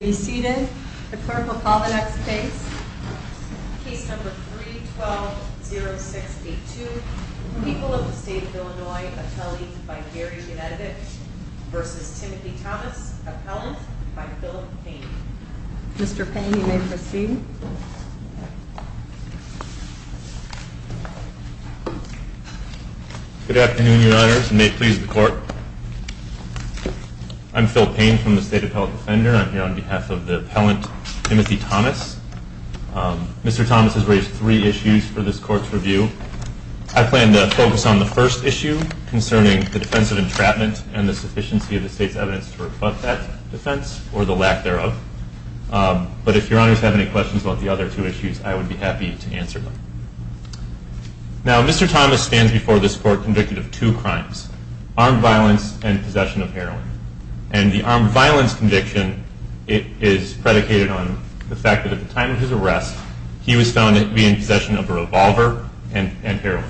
Be seated. The clerk will call the next case. Case number 3-12-06-82, People of the State of Illinois, appellees by Gary Benedict v. Timothy Thomas, appellant by Philip Payne. Mr. Payne, you may proceed. Good afternoon, Your Honors, and may it please the Court. I'm Phil Payne from the State Appellate Defender. I'm here on behalf of the appellant, Timothy Thomas. Mr. Thomas has raised three issues for this Court's review. I plan to focus on the first issue concerning the defense of entrapment and the sufficiency of the State's evidence to reflect that defense, or the lack thereof. But if Your Honors have any questions about the other two issues, I would be happy to answer them. Now, Mr. Thomas stands before this Court convicted of two crimes, armed violence and possession of heroin. And the armed violence conviction is predicated on the fact that at the time of his arrest, he was found to be in possession of a revolver and heroin.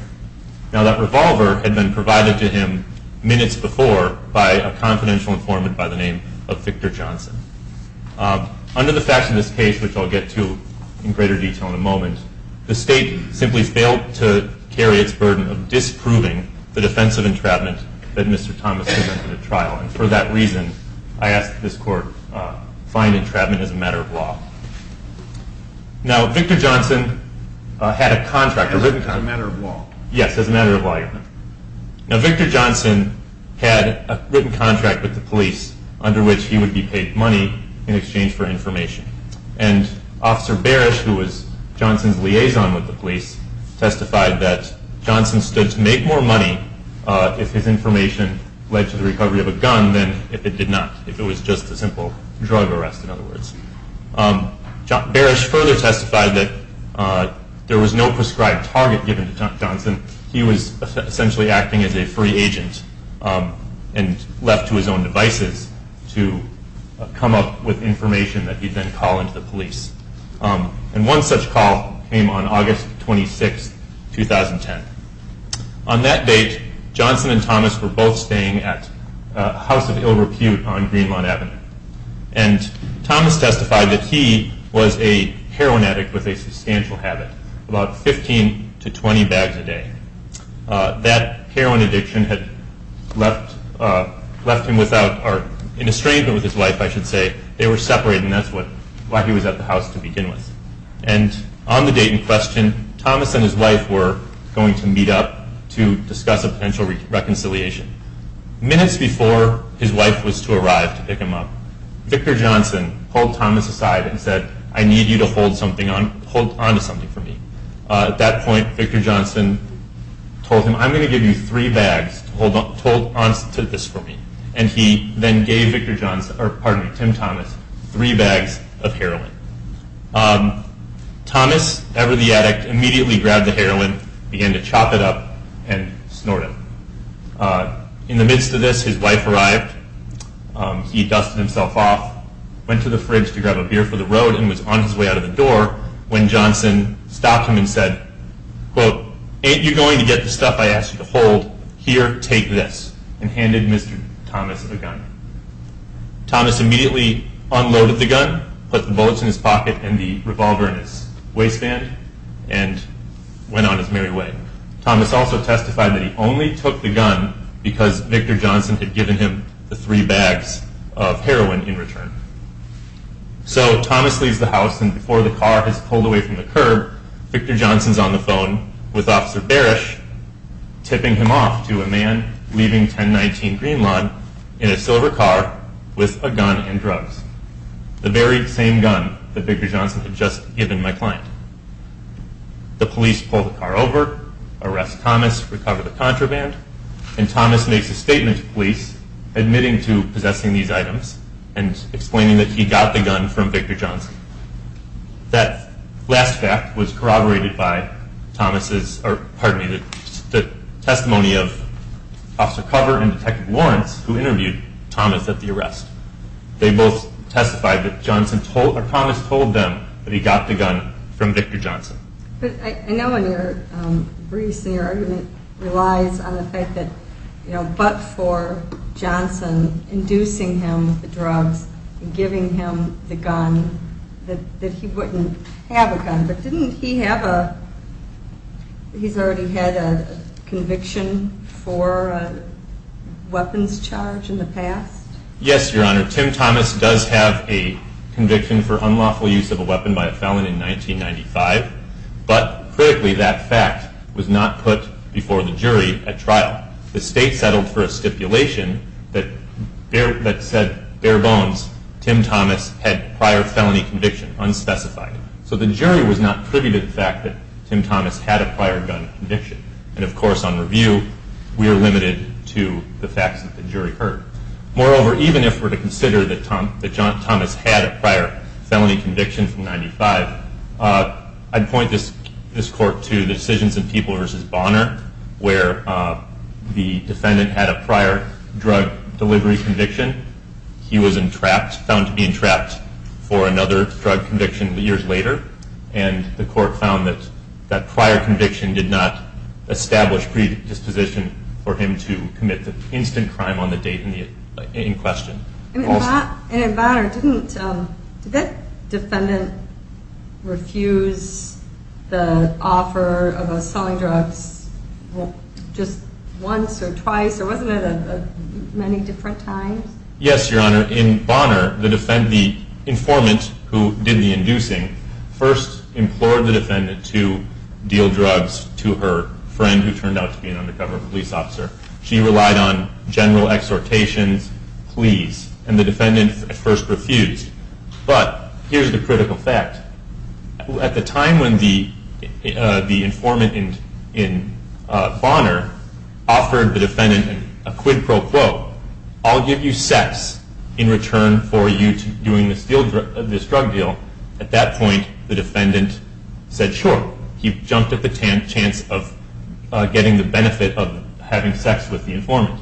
Now, that revolver had been provided to him minutes before by a confidential informant by the name of Victor Johnson. Under the facts of this case, which I'll get to in greater detail in a moment, the State simply failed to carry its burden of disproving the defense of entrapment that Mr. Thomas committed at trial. And for that reason, I ask that this Court find entrapment as a matter of law. Now, Victor Johnson had a contract. As a matter of law. Yes, as a matter of law, Your Honor. Now, Victor Johnson had a written contract with the police under which he would be paid money in exchange for information. And Officer Barish, who was Johnson's liaison with the police, testified that Johnson stood to make more money if his information led to the recovery of a gun than if it did not. If it was just a simple drug arrest, in other words. Barish further testified that there was no prescribed target given to Johnson. He was essentially acting as a free agent and left to his own devices to come up with information that he'd then call into the police. And one such call came on August 26, 2010. On that date, Johnson and Thomas were both staying at a house of ill repute on Greenlawn Avenue. And Thomas testified that he was a heroin addict with a substantial habit, about 15 to 20 bags a day. That heroin addiction had left him in a straitened with his wife, I should say. They were separated, and that's why he was at the house to begin with. And on the date in question, Thomas and his wife were going to meet up to discuss a potential reconciliation. Minutes before his wife was to arrive to pick him up, Victor Johnson pulled Thomas aside and said, I need you to hold on to something for me. At that point, Victor Johnson told him, I'm going to give you three bags to hold on to this for me. And he then gave Tim Thomas three bags of heroin. Thomas, ever the addict, immediately grabbed the heroin, began to chop it up, and snorted it. In the midst of this, his wife arrived. He dusted himself off, went to the fridge to grab a beer for the road, and was on his way out of the door when Johnson stopped him and said, quote, ain't you going to get the stuff I asked you to hold? Here, take this, and handed Mr. Thomas the gun. Thomas immediately unloaded the gun, put the bullets in his pocket and the revolver in his waistband, and went on his merry way. Thomas also testified that he only took the gun because Victor Johnson had given him the three bags of heroin in return. So Thomas leaves the house, and before the car has pulled away from the curb, Victor Johnson's on the phone with Officer Barish, tipping him off to a man leaving 1019 Greenlawn in a silver car with a gun and drugs, the very same gun that Victor Johnson had just given my client. The police pull the car over, arrest Thomas, recover the contraband, and Thomas makes a statement to police, admitting to possessing these items and explaining that he got the gun from Victor Johnson. That last fact was corroborated by Thomas' testimony of Officer Cover and Detective Lawrence, who interviewed Thomas at the arrest. They both testified that Thomas told them that he got the gun from Victor Johnson. But I know in your briefs and your argument relies on the fact that Johnson inducing him with the drugs and giving him the gun, that he wouldn't have a gun. But didn't he have a, he's already had a conviction for a weapons charge in the past? Yes, Your Honor. Tim Thomas does have a conviction for unlawful use of a weapon by a felon in 1995. But, critically, that fact was not put before the jury at trial. The state settled for a stipulation that said, bare bones, Tim Thomas had prior felony conviction, unspecified. So the jury was not privy to the fact that Tim Thomas had a prior gun conviction. And, of course, on review, we are limited to the facts that the jury heard. Moreover, even if we're to consider that Thomas had a prior felony conviction from 1995, I'd point this court to the decisions in People v. Bonner, where the defendant had a prior drug delivery conviction. He was found to be entrapped for another drug conviction years later. And the court found that that prior conviction did not establish predisposition for him to commit the instant crime on the date in question. And in Bonner, did that defendant refuse the offer of selling drugs just once or twice? Or wasn't it many different times? Yes, Your Honor. In Bonner, the informant who did the inducing first implored the defendant to deal drugs to her friend, who turned out to be an undercover police officer. She relied on general exhortations, pleas, and the defendant at first refused. But here's the critical fact. At the time when the informant in Bonner offered the defendant a quid pro quo, I'll give you sex in return for you doing this drug deal, at that point the defendant said, sure. He jumped at the chance of getting the benefit of having sex with the informant.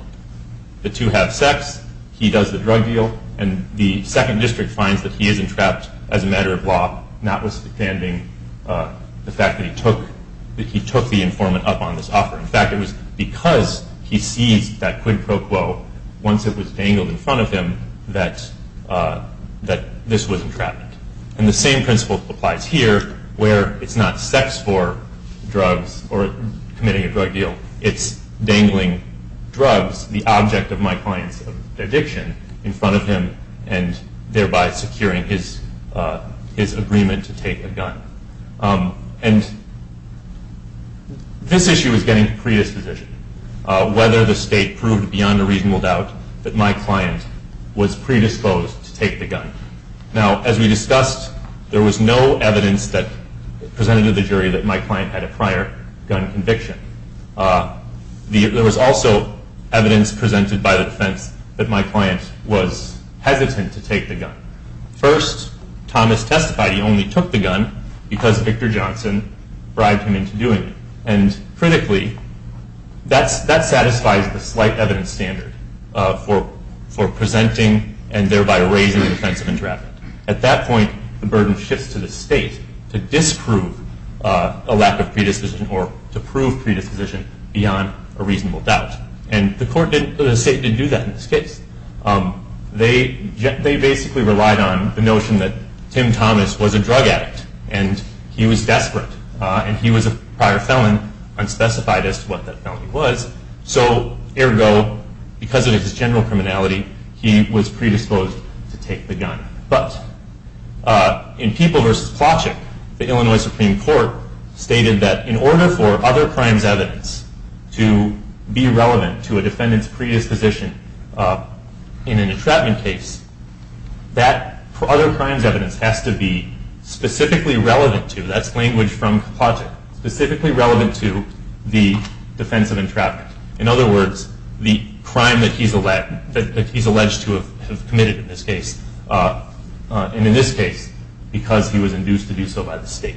The two have sex, he does the drug deal, and the second district finds that he is entrapped as a matter of law, notwithstanding the fact that he took the informant up on this offer. In fact, it was because he seized that quid pro quo once it was dangled in front of him that this was entrapment. And the same principle applies here, where it's not sex for drugs or committing a drug deal. It's dangling drugs, the object of my client's addiction, in front of him and thereby securing his agreement to take a gun. And this issue is getting predisposition. Whether the state proved beyond a reasonable doubt that my client was predisposed to take the gun. Now, as we discussed, there was no evidence presented to the jury that my client had a prior gun conviction. There was also evidence presented by the defense that my client was hesitant to take the gun. First, Thomas testified he only took the gun because Victor Johnson bribed him into doing it. And critically, that satisfies the slight evidence standard for presenting and thereby raising the defense of entrapment. At that point, the burden shifts to the state to disprove a lack of predisposition or to prove predisposition beyond a reasonable doubt. And the state didn't do that in this case. They basically relied on the notion that Tim Thomas was a drug addict and he was desperate. And he was a prior felon, unspecified as to what that felony was. So ergo, because of his general criminality, he was predisposed to take the gun. But in People v. Plachik, the Illinois Supreme Court stated that in order for other crimes evidence to be relevant to a defendant's predisposition in an entrapment case, that other crimes evidence has to be specifically relevant to, that's language from Plachik, specifically relevant to the defense of entrapment. In other words, the crime that he's alleged to have committed in this case. And in this case, because he was induced to do so by the state.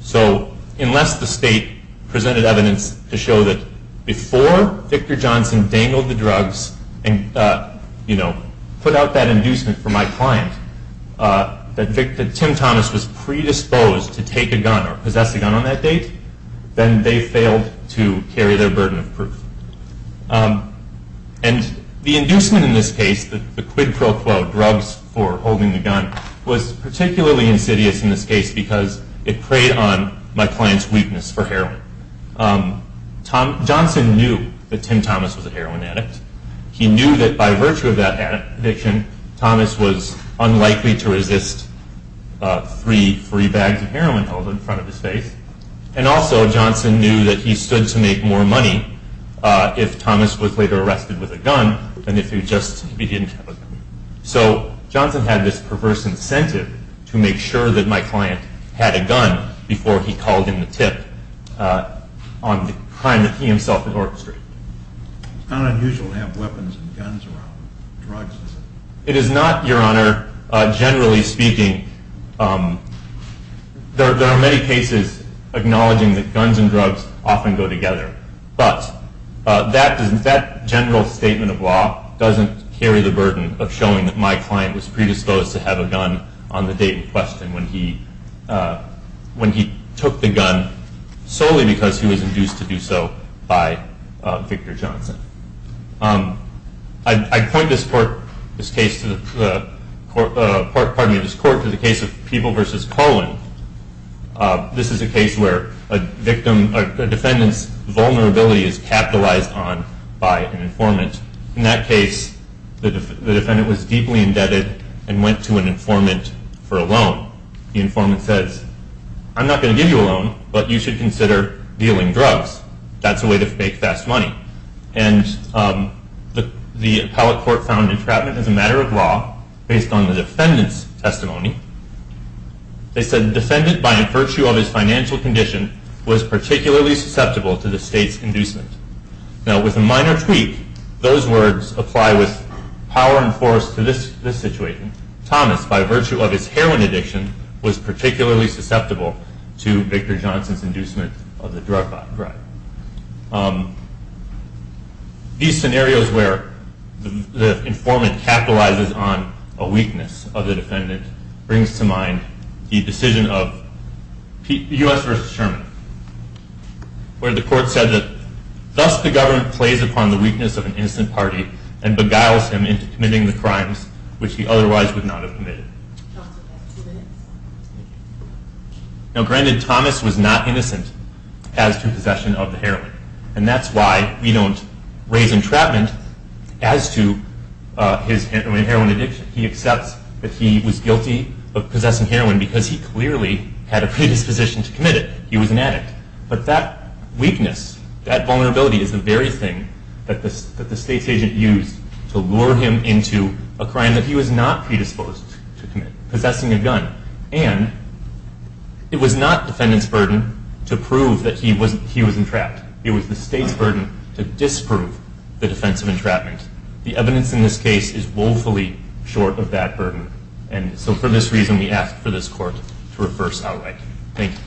So unless the state presented evidence to show that before Victor Johnson dangled the drugs and put out that inducement for my client, that Tim Thomas was predisposed to take a gun or possess a gun on that date, then they failed to carry their burden of proof. And the inducement in this case, the quid pro quo, drugs for holding the gun, was particularly insidious in this case because it preyed on my client's weakness for heroin. Johnson knew that Tim Thomas was a heroin addict. He knew that by virtue of that addiction, Thomas was unlikely to resist three free bags of heroin held in front of his face. And also Johnson knew that he stood to make more money if Thomas was later arrested with a gun than if he just didn't have a gun. So Johnson had this perverse incentive to make sure that my client had a gun before he called in the tip on the crime that he himself had orchestrated. It's not unusual to have weapons and guns around drugs, is it? It is not, Your Honor. Generally speaking, there are many cases acknowledging that guns and drugs often go together. But that general statement of law doesn't carry the burden of showing that my client was predisposed to have a gun on the date in question when he took the gun solely because he was induced to do so by Victor Johnson. I point this court to the case of People v. Collin. This is a case where a defendant's vulnerability is capitalized on by an informant. In that case, the defendant was deeply indebted and went to an informant for a loan. The informant says, I'm not going to give you a loan, but you should consider dealing drugs. That's a way to make fast money. And the appellate court found entrapment as a matter of law based on the defendant's testimony. They said the defendant, by virtue of his financial condition, was particularly susceptible to the state's inducement. Now, with a minor tweak, those words apply with power and force to this situation. And Thomas, by virtue of his heroin addiction, was particularly susceptible to Victor Johnson's inducement of the drug crime. These scenarios where the informant capitalizes on a weakness of the defendant brings to mind the decision of U.S. v. Sherman, where the court said that thus the government plays upon the weakness of an instant party and beguiles him into committing the crimes which he otherwise would not have committed. Now, granted, Thomas was not innocent as to possession of the heroin. And that's why we don't raise entrapment as to his heroin addiction. He accepts that he was guilty of possessing heroin because he clearly had a predisposition to commit it. He was an addict. But that weakness, that vulnerability, is the very thing that the state's agent used to lure him into a crime that he was not predisposed to commit, possessing a gun. And it was not the defendant's burden to prove that he was entrapped. It was the state's burden to disprove the defense of entrapment. The evidence in this case is woefully short of that burden. And so for this reason, we ask for this court to reverse our right. Thank you.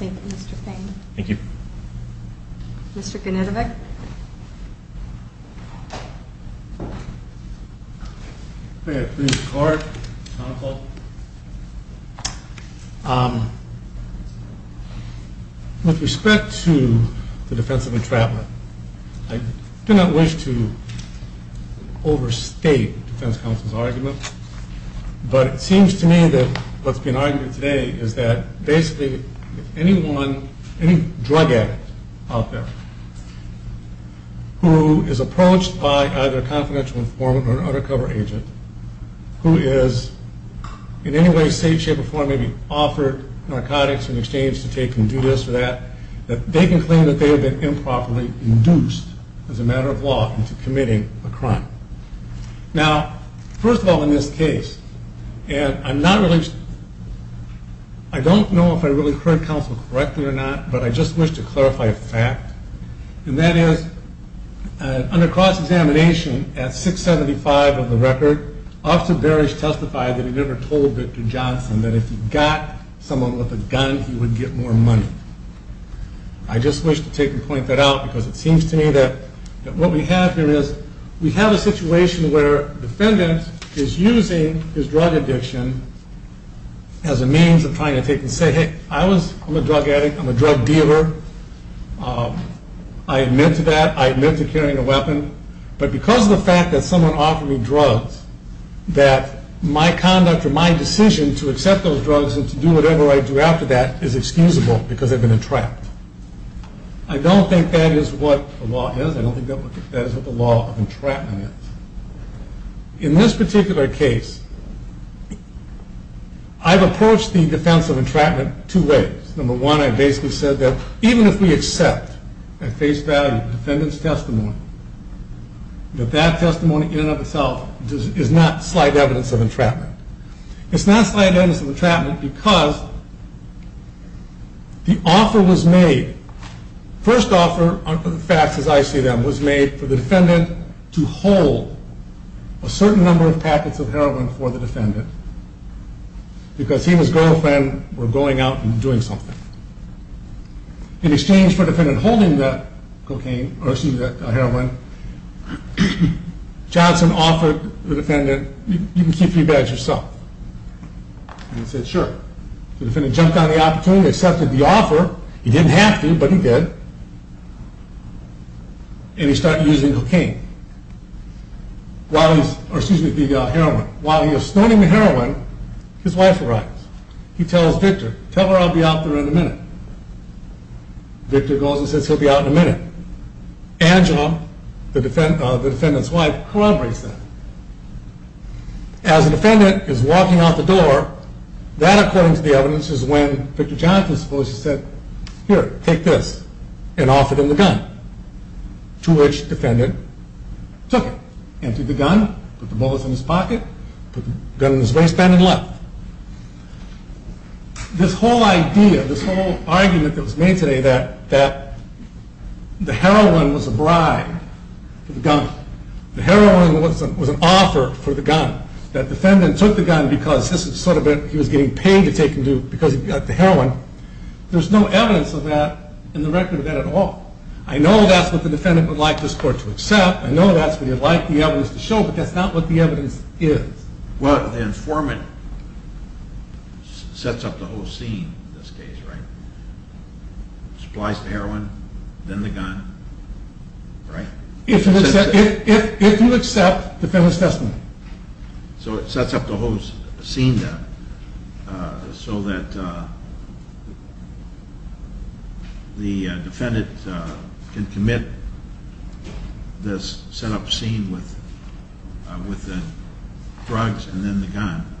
Any questions? Thank you, Mr. Fain. Thank you. Mr. Genetovic? May I please start, counsel? With respect to the defense of entrapment, I do not wish to overstate the defense counsel's argument. But it seems to me that what's been argued today is that basically anyone, any drug addict out there who is approached by either a confidential informant or an undercover agent who is in any way, shape, or form maybe offered narcotics in exchange to take and do this or that, that they can claim that they have been improperly induced as a matter of law into committing a crime. Now, first of all in this case, and I'm not really, I don't know if I really heard counsel correctly or not, but I just wish to clarify a fact. And that is, under cross-examination at 675 of the record, Officer Barish testified that he never told Victor Johnson that if he got someone with a gun, he would get more money. I just wish to take and point that out because it seems to me that what we have here is we have a situation where a defendant is using his drug addiction as a means of trying to take and say, hey, I'm a drug addict, I'm a drug dealer, I admit to that, I admit to carrying a weapon, but because of the fact that someone offered me drugs, that my conduct or my decision to accept those drugs and to do whatever I do after that is excusable because I've been entrapped. I don't think that is what the law is. I don't think that is what the law of entrapment is. In this particular case, I've approached the defense of entrapment two ways. Number one, I basically said that even if we accept at face value the defendant's testimony, that that testimony in and of itself is not slight evidence of entrapment. It's not slight evidence of entrapment because the offer was made, the first offer of the facts as I see them, was made for the defendant to hold a certain number of packets of heroin for the defendant because he and his girlfriend were going out and doing something. In exchange for the defendant holding the heroin, Johnson offered the defendant, you can keep three bags yourself. He said, sure. The defendant jumped on the opportunity, accepted the offer. He didn't have to, but he did, and he started using cocaine. While he was snorting the heroin, his wife arrives. He tells Victor, tell her I'll be out there in a minute. Victor goes and says he'll be out in a minute. Angela, the defendant's wife, corroborates that. As the defendant is walking out the door, that according to the evidence is when Victor Johnson supposedly said, here, take this and offer them the gun, to which the defendant took it, emptied the gun, put the bullets in his pocket, put the gun in his waistband and left. This whole idea, this whole argument that was made today that the heroin was a bribe to the gun, the heroin was an offer for the gun, that the defendant took the gun because he was getting paid to take the heroin, there's no evidence of that in the record of that at all. I know that's what the defendant would like this court to accept. I know that's what he'd like the evidence to show, but that's not what the evidence is. Well, the informant sets up the whole scene in this case, right? Supplies the heroin, then the gun, right? If you accept the defendant's testimony. So it sets up the whole scene then, so that the defendant can commit this set-up scene with the drugs and then the gun,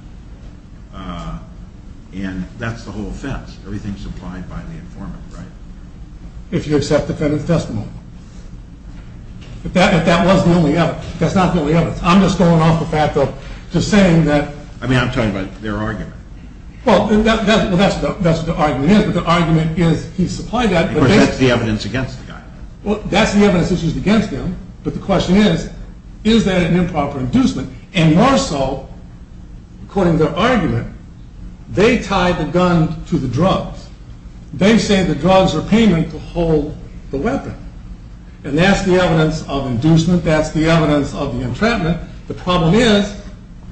and that's the whole offense. Everything's supplied by the informant, right? If you accept the defendant's testimony. If that was the only evidence. That's not the only evidence. I'm just going off the fact of just saying that... I mean, I'm talking about their argument. Well, that's what the argument is, but the argument is he supplied that... Of course, that's the evidence against the guy. Well, that's the evidence that's used against him, but the question is, is that an improper inducement? And more so, according to their argument, they tied the gun to the drugs. They say the drugs are payment to hold the weapon, and that's the evidence of inducement, that's the evidence of the entrapment. The problem is,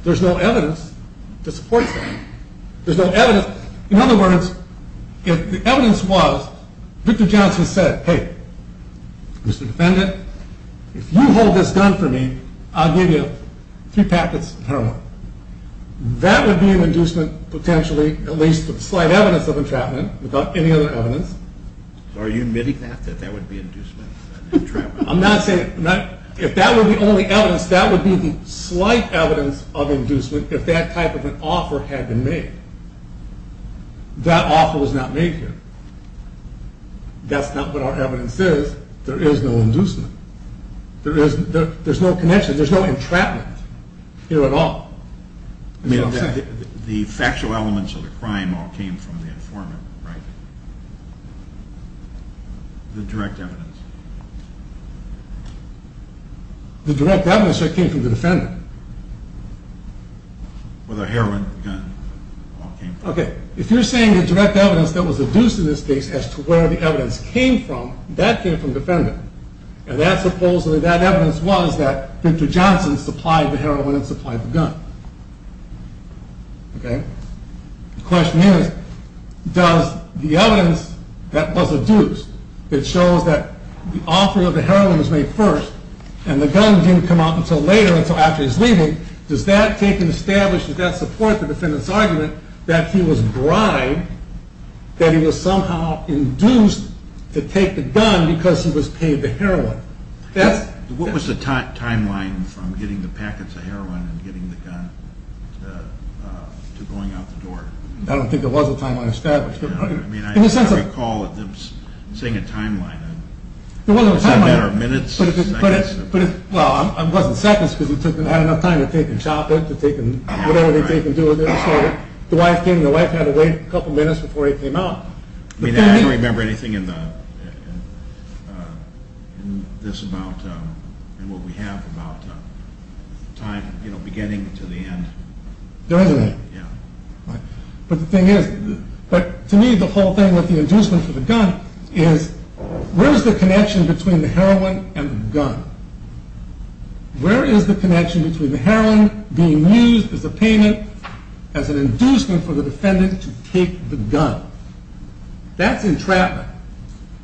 there's no evidence to support that. There's no evidence. In other words, if the evidence was Victor Johnson said, Hey, Mr. Defendant, if you hold this gun for me, I'll give you three packets of heroin. That would be an inducement, potentially, at least with slight evidence of entrapment, without any other evidence. Are you admitting that, that that would be an inducement? I'm not saying... If that were the only evidence, that would be the slight evidence of inducement if that type of an offer had been made. That offer was not made here. That's not what our evidence is. There is no inducement. There's no connection. There's no entrapment here at all. The factual elements of the crime all came from the informant, right? The direct evidence. The direct evidence that came from the defendant. Well, the heroin, the gun, all came from him. Okay, if you're saying the direct evidence that was induced in this case as to where the evidence came from, that came from the defendant, and that supposedly, that evidence was that Victor Johnson supplied the heroin and supplied the gun, okay? The question is, does the evidence that was induced, that shows that the offering of the heroin was made first and the gun didn't come out until later, until after his leaving, does that take and establish, does that support the defendant's argument that he was bribed, that he was somehow induced to take the gun because he was paid the heroin? What was the timeline from getting the packets of heroin and getting the gun to going out the door? I don't think there was a timeline established. I mean, I recall it was saying a timeline. It wasn't a timeline. Is that a matter of minutes, seconds? Well, it wasn't seconds because he had enough time to take and shop it, to take and whatever he could do with it. So the wife came and the wife had to wait a couple minutes before he came out. I mean, I don't remember anything in this about, in what we have about time, you know, beginning to the end. There is an end. Yeah. But the thing is, but to me the whole thing with the inducement for the gun is where is the connection between the heroin and the gun? Where is the connection between the heroin being used as a payment, as an inducement for the defendant to take the gun? That's entrapment.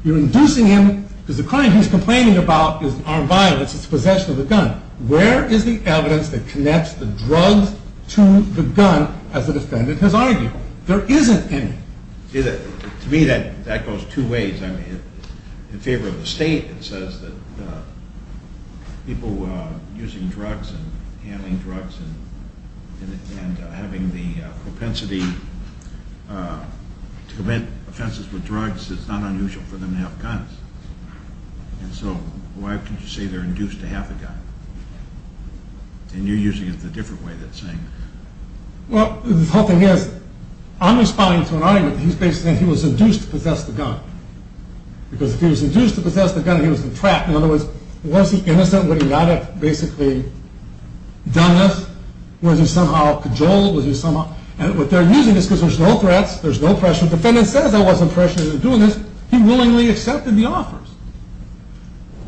You're inducing him because the crime he's complaining about is armed violence. It's possession of the gun. Where is the evidence that connects the drugs to the gun as the defendant has argued? There isn't any. To me that goes two ways. I mean, in favor of the state, it says that people using drugs and handling drugs and having the propensity to commit offenses with drugs is not unusual for them to have guns. And so why can't you say they're induced to have a gun? And you're using it the different way than saying that. Well, the whole thing is, I'm responding to an argument that he's basically saying he was induced to possess the gun. Because if he was induced to possess the gun, he was entrapped. In other words, was he innocent? Would he not have basically done this? Was he somehow cajoled? And what they're using is because there's no threats, there's no pressure. So if the defendant says, I wasn't pressured into doing this, he willingly accepted the offers.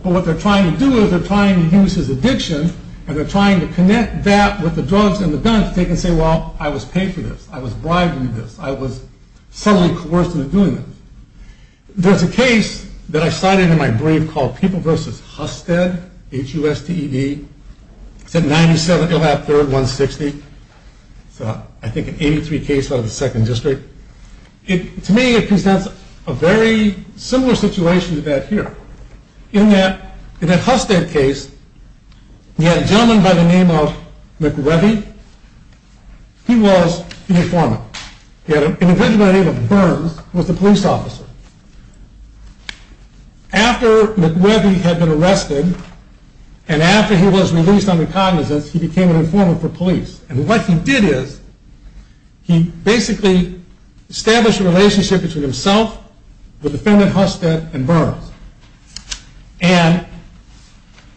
But what they're trying to do is they're trying to use his addiction and they're trying to connect that with the drugs and the guns so they can say, well, I was paid for this. I was bribed to do this. I was subtly coerced into doing this. There's a case that I cited in my brief called People v. Husted, H-U-S-T-E-D. It's at 97 Elap Third, 160. It's, I think, an 83 case out of the Second District. To me, it presents a very similar situation to that here. In that Husted case, he had a gentleman by the name of McReavy. He was an informant. He had an individual by the name of Burns who was the police officer. After McReavy had been arrested and after he was released on incognizance, he became an informant for police. And what he did is he basically established a relationship between himself, the defendant Husted, and Burns. And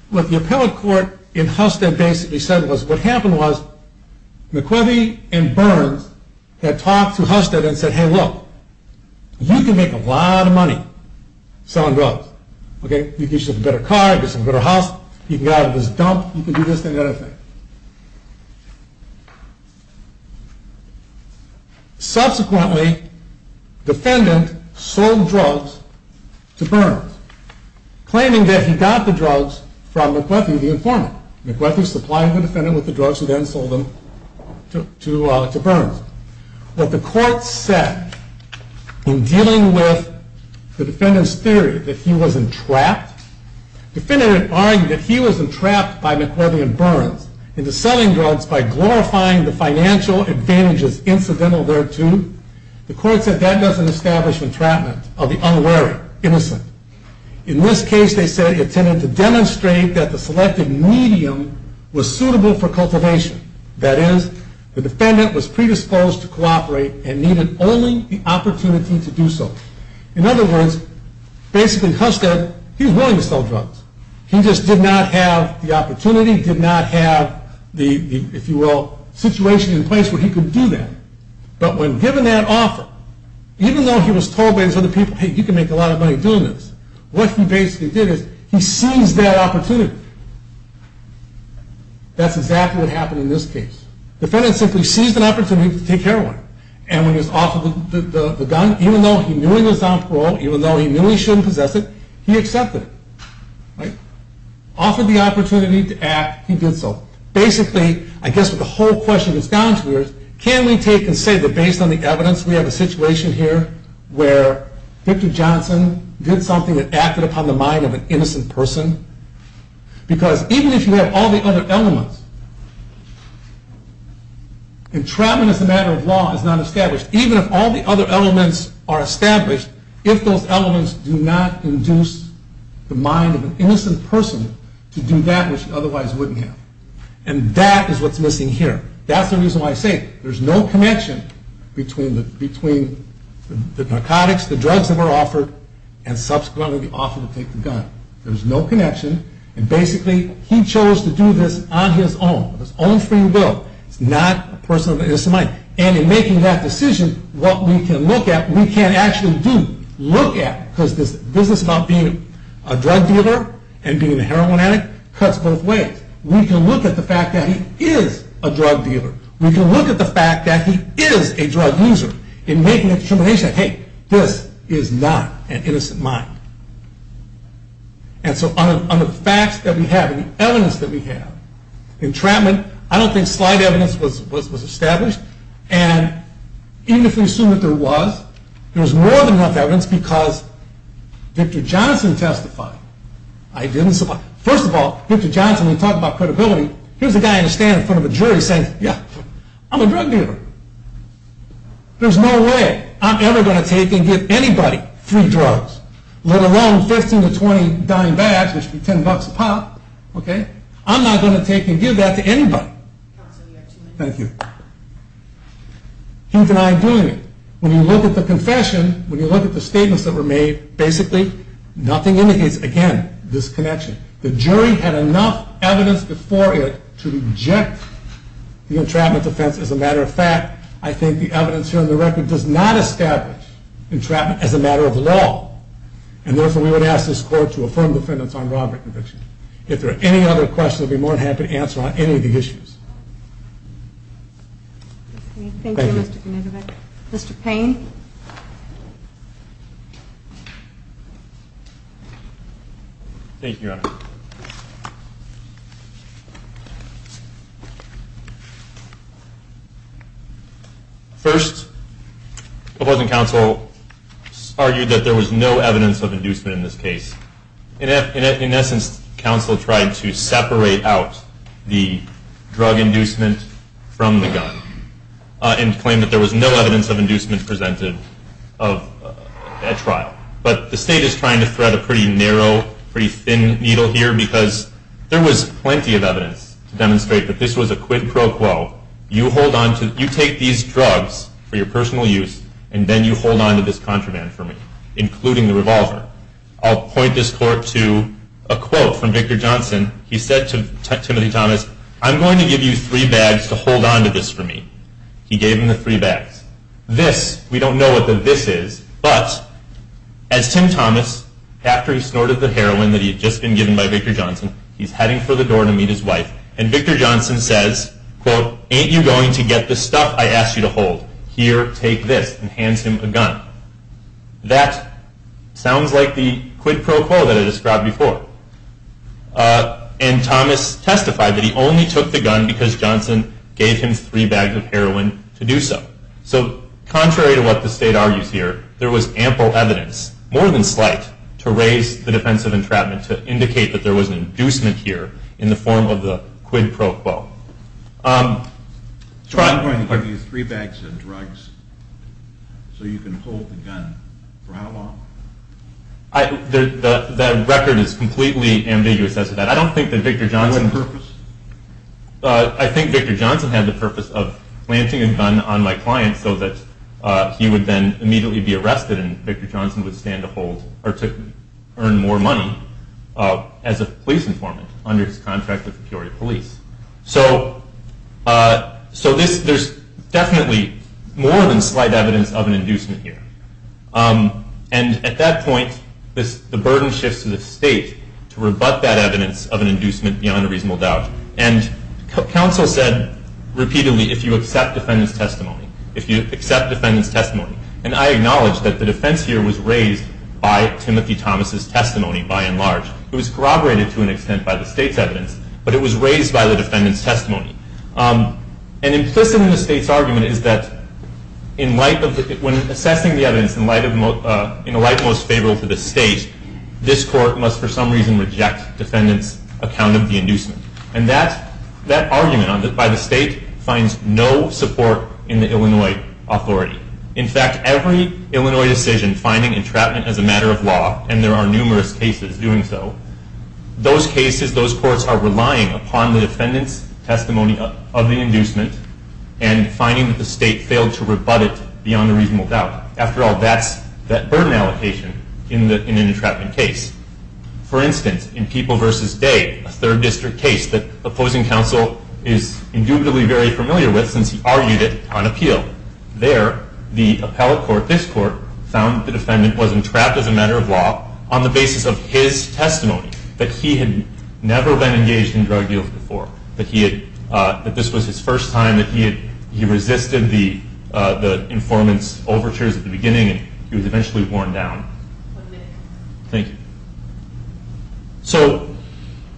what the appellate court in Husted basically said was what happened was McReavy and Burns had talked to Husted and said, hey, look, you can make a lot of money selling drugs. You can get yourself a better car, get yourself a better house. You can get out of this dump. You can do this and that. Subsequently, defendant sold drugs to Burns, claiming that he got the drugs from McReavy, the informant. McReavy supplied the defendant with the drugs and then sold them to Burns. What the court said in dealing with the defendant's theory that he wasn't trapped, the defendant argued that he was entrapped by McReavy and Burns into selling drugs by glorifying the financial advantages incidental thereto. The court said that doesn't establish entrapment of the unwary, innocent. In this case, they said it tended to demonstrate that the selected medium was suitable for cultivation. That is, the defendant was predisposed to cooperate and needed only the opportunity to do so. In other words, basically Husted, he was willing to sell drugs. He just did not have the opportunity, did not have the, if you will, situation in place where he could do that. But when given that offer, even though he was told by these other people, hey, you can make a lot of money doing this, what he basically did is he seized that opportunity. That's exactly what happened in this case. The defendant simply seized an opportunity to take care of him. And when he was offered the gun, even though he knew he was on parole, even though he knew he shouldn't possess it, he accepted it. Offered the opportunity to act, he did so. Basically, I guess what the whole question is down to is, can we take and say that based on the evidence, we have a situation here where Victor Johnson did something that acted upon the mind of an innocent person? Because even if you have all the other elements, entrapment as a matter of law is not established. Even if all the other elements are established, if those elements do not induce the mind of an innocent person to do that which otherwise wouldn't have. And that is what's missing here. That's the reason why I say there's no connection between the narcotics, the drugs that were offered, and subsequently the offer to take the gun. There's no connection. And basically, he chose to do this on his own, on his own free will. He's not a person of an innocent mind. And in making that decision, what we can look at, we can't actually do, look at, because this business about being a drug dealer and being a heroin addict cuts both ways. We can look at the fact that he is a drug dealer. We can look at the fact that he is a drug user and make a determination that, hey, this is not an innocent mind. And so on the facts that we have and the evidence that we have, entrapment, I don't think slight evidence was established. And even if we assume that there was, there was more than enough evidence because Victor Johnson testified. First of all, Victor Johnson, when he talked about credibility, here's a guy in a stand in front of a jury saying, yeah, I'm a drug dealer. There's no way I'm ever going to take and give anybody free drugs. Let alone 15 to 20 dime bags, which would be 10 bucks a pop. Okay? I'm not going to take and give that to anybody. Thank you. He denied doing it. When you look at the confession, when you look at the statements that were made, basically nothing indicates, again, this connection. The jury had enough evidence before it to reject the entrapment defense. As a matter of fact, I think the evidence here on the record does not establish entrapment as a matter of law. And therefore, we would ask this court to affirm the defendant's armed robbery conviction. If there are any other questions, I'd be more than happy to answer on any of the issues. Thank you, Mr. Genetovic. Mr. Payne. Thank you, Your Honor. First, the opposing counsel argued that there was no evidence of inducement in this case. In essence, counsel tried to separate out the drug inducement from the gun and claimed that there was no evidence of inducement presented at trial. But the state is trying to thread a pretty narrow, pretty thin needle here because there was plenty of evidence to demonstrate that this was a quid pro quo. You take these drugs for your personal use and then you hold on to this contraband for me, including the revolver. I'll point this court to a quote from Victor Johnson. He said to Timothy Thomas, I'm going to give you three bags to hold on to this for me. He gave him the three bags. This, we don't know what the this is, but as Tim Thomas, after he snorted the heroin that he had just been given by Victor Johnson, he's heading for the door to meet his wife, and Victor Johnson says, quote, ain't you going to get the stuff I asked you to hold? Here, take this, and hands him a gun. That sounds like the quid pro quo that I described before. And Thomas testified that he only took the gun because Johnson gave him three bags of heroin to do so. So contrary to what the state argues here, there was ample evidence, more than slight, to raise the defense of entrapment to indicate that there was an inducement here in the form of the quid pro quo. I'm going to give you three bags of drugs so you can hold the gun. For how long? The record is completely ambiguous as to that. I don't think that Victor Johnson... For what purpose? I think Victor Johnson had the purpose of planting a gun on my client so that he would then immediately be arrested and Victor Johnson would stand to hold or to earn more money as a police informant under his contract with Peoria Police. So there's definitely more than slight evidence of an inducement here. And at that point, the burden shifts to the state to rebut that evidence of an inducement beyond a reasonable doubt. And counsel said repeatedly, if you accept defendant's testimony, if you accept defendant's testimony, and I acknowledge that the defense here was raised by Timothy Thomas' testimony by and large. It was corroborated to an extent by the state's evidence, but it was raised by the defendant's testimony. And implicit in the state's argument is that when assessing the evidence in the light most favorable to the state, this court must for some reason reject defendant's account of the inducement. And that argument by the state finds no support in the Illinois authority. In fact, every Illinois decision finding entrapment as a matter of law, and there are numerous cases doing so, those cases, those courts are relying upon the defendant's testimony of the inducement and finding that the state failed to rebut it beyond a reasonable doubt. After all, that's that burden allocation in an entrapment case. For instance, in People v. Day, a third district case that opposing counsel is indubitably very familiar with since he argued it on appeal. There, the appellate court, this court, found that the defendant was entrapped as a matter of law on the basis of his testimony, that he had never been engaged in drug deals before, that this was his first time, and that he resisted the informant's overtures at the beginning and he was eventually worn down. Thank you. So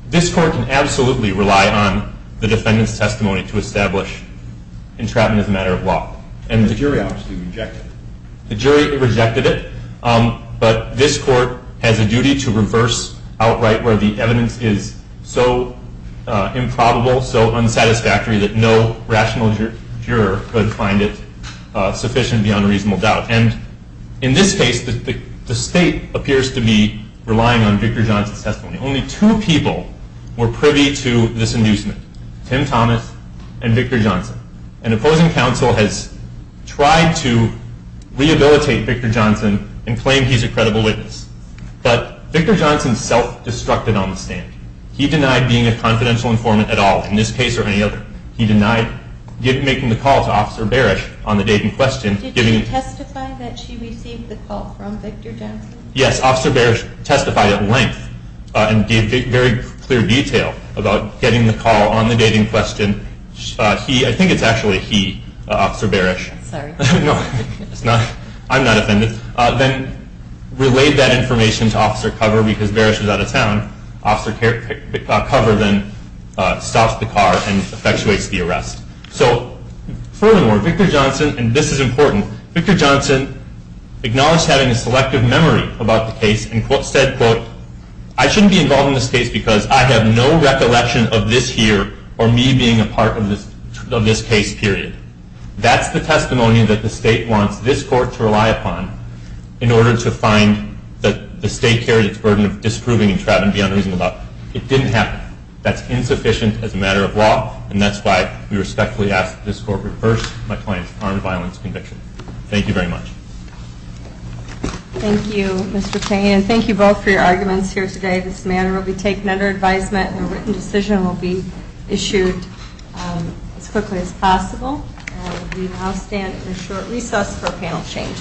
this court can absolutely rely on the defendant's testimony to establish entrapment as a matter of law. The jury obviously rejected it. The jury rejected it, but this court has a duty to reverse outright where the evidence is so improbable, so unsatisfactory that no rational juror could find it sufficient beyond a reasonable doubt. And in this case, the state appears to be relying on Victor Johnson's testimony. Only two people were privy to this inducement, Tim Thomas and Victor Johnson. And opposing counsel has tried to rehabilitate Victor Johnson and claim he's a credible witness. But Victor Johnson self-destructed on the stand. He denied being a confidential informant at all in this case or any other. He denied making the call to Officer Barish on the date in question. Did she testify that she received the call from Victor Johnson? Yes, Officer Barish testified at length and gave very clear detail about getting the call on the date in question. I think it's actually he, Officer Barish. Sorry. No, I'm not offended. Then relayed that information to Officer Cover because Barish was out of town. Officer Cover then stops the car and effectuates the arrest. So furthermore, Victor Johnson, and this is important, Victor Johnson acknowledged having a selective memory about the case and said, quote, I shouldn't be involved in this case because I have no recollection of this year or me being a part of this case, period. That's the testimony that the state wants this court to rely upon in order to find that the state carried its burden of disproving and trying to be unreasonable about. It didn't happen. That's insufficient as a matter of law, and that's why we respectfully ask that this court reverse my claim of armed violence conviction. Thank you very much. Thank you, Mr. Payne, and thank you both for your arguments here today. This matter will be taken under advisement and a written decision will be issued as quickly as possible. We now stand in short recess for panel change.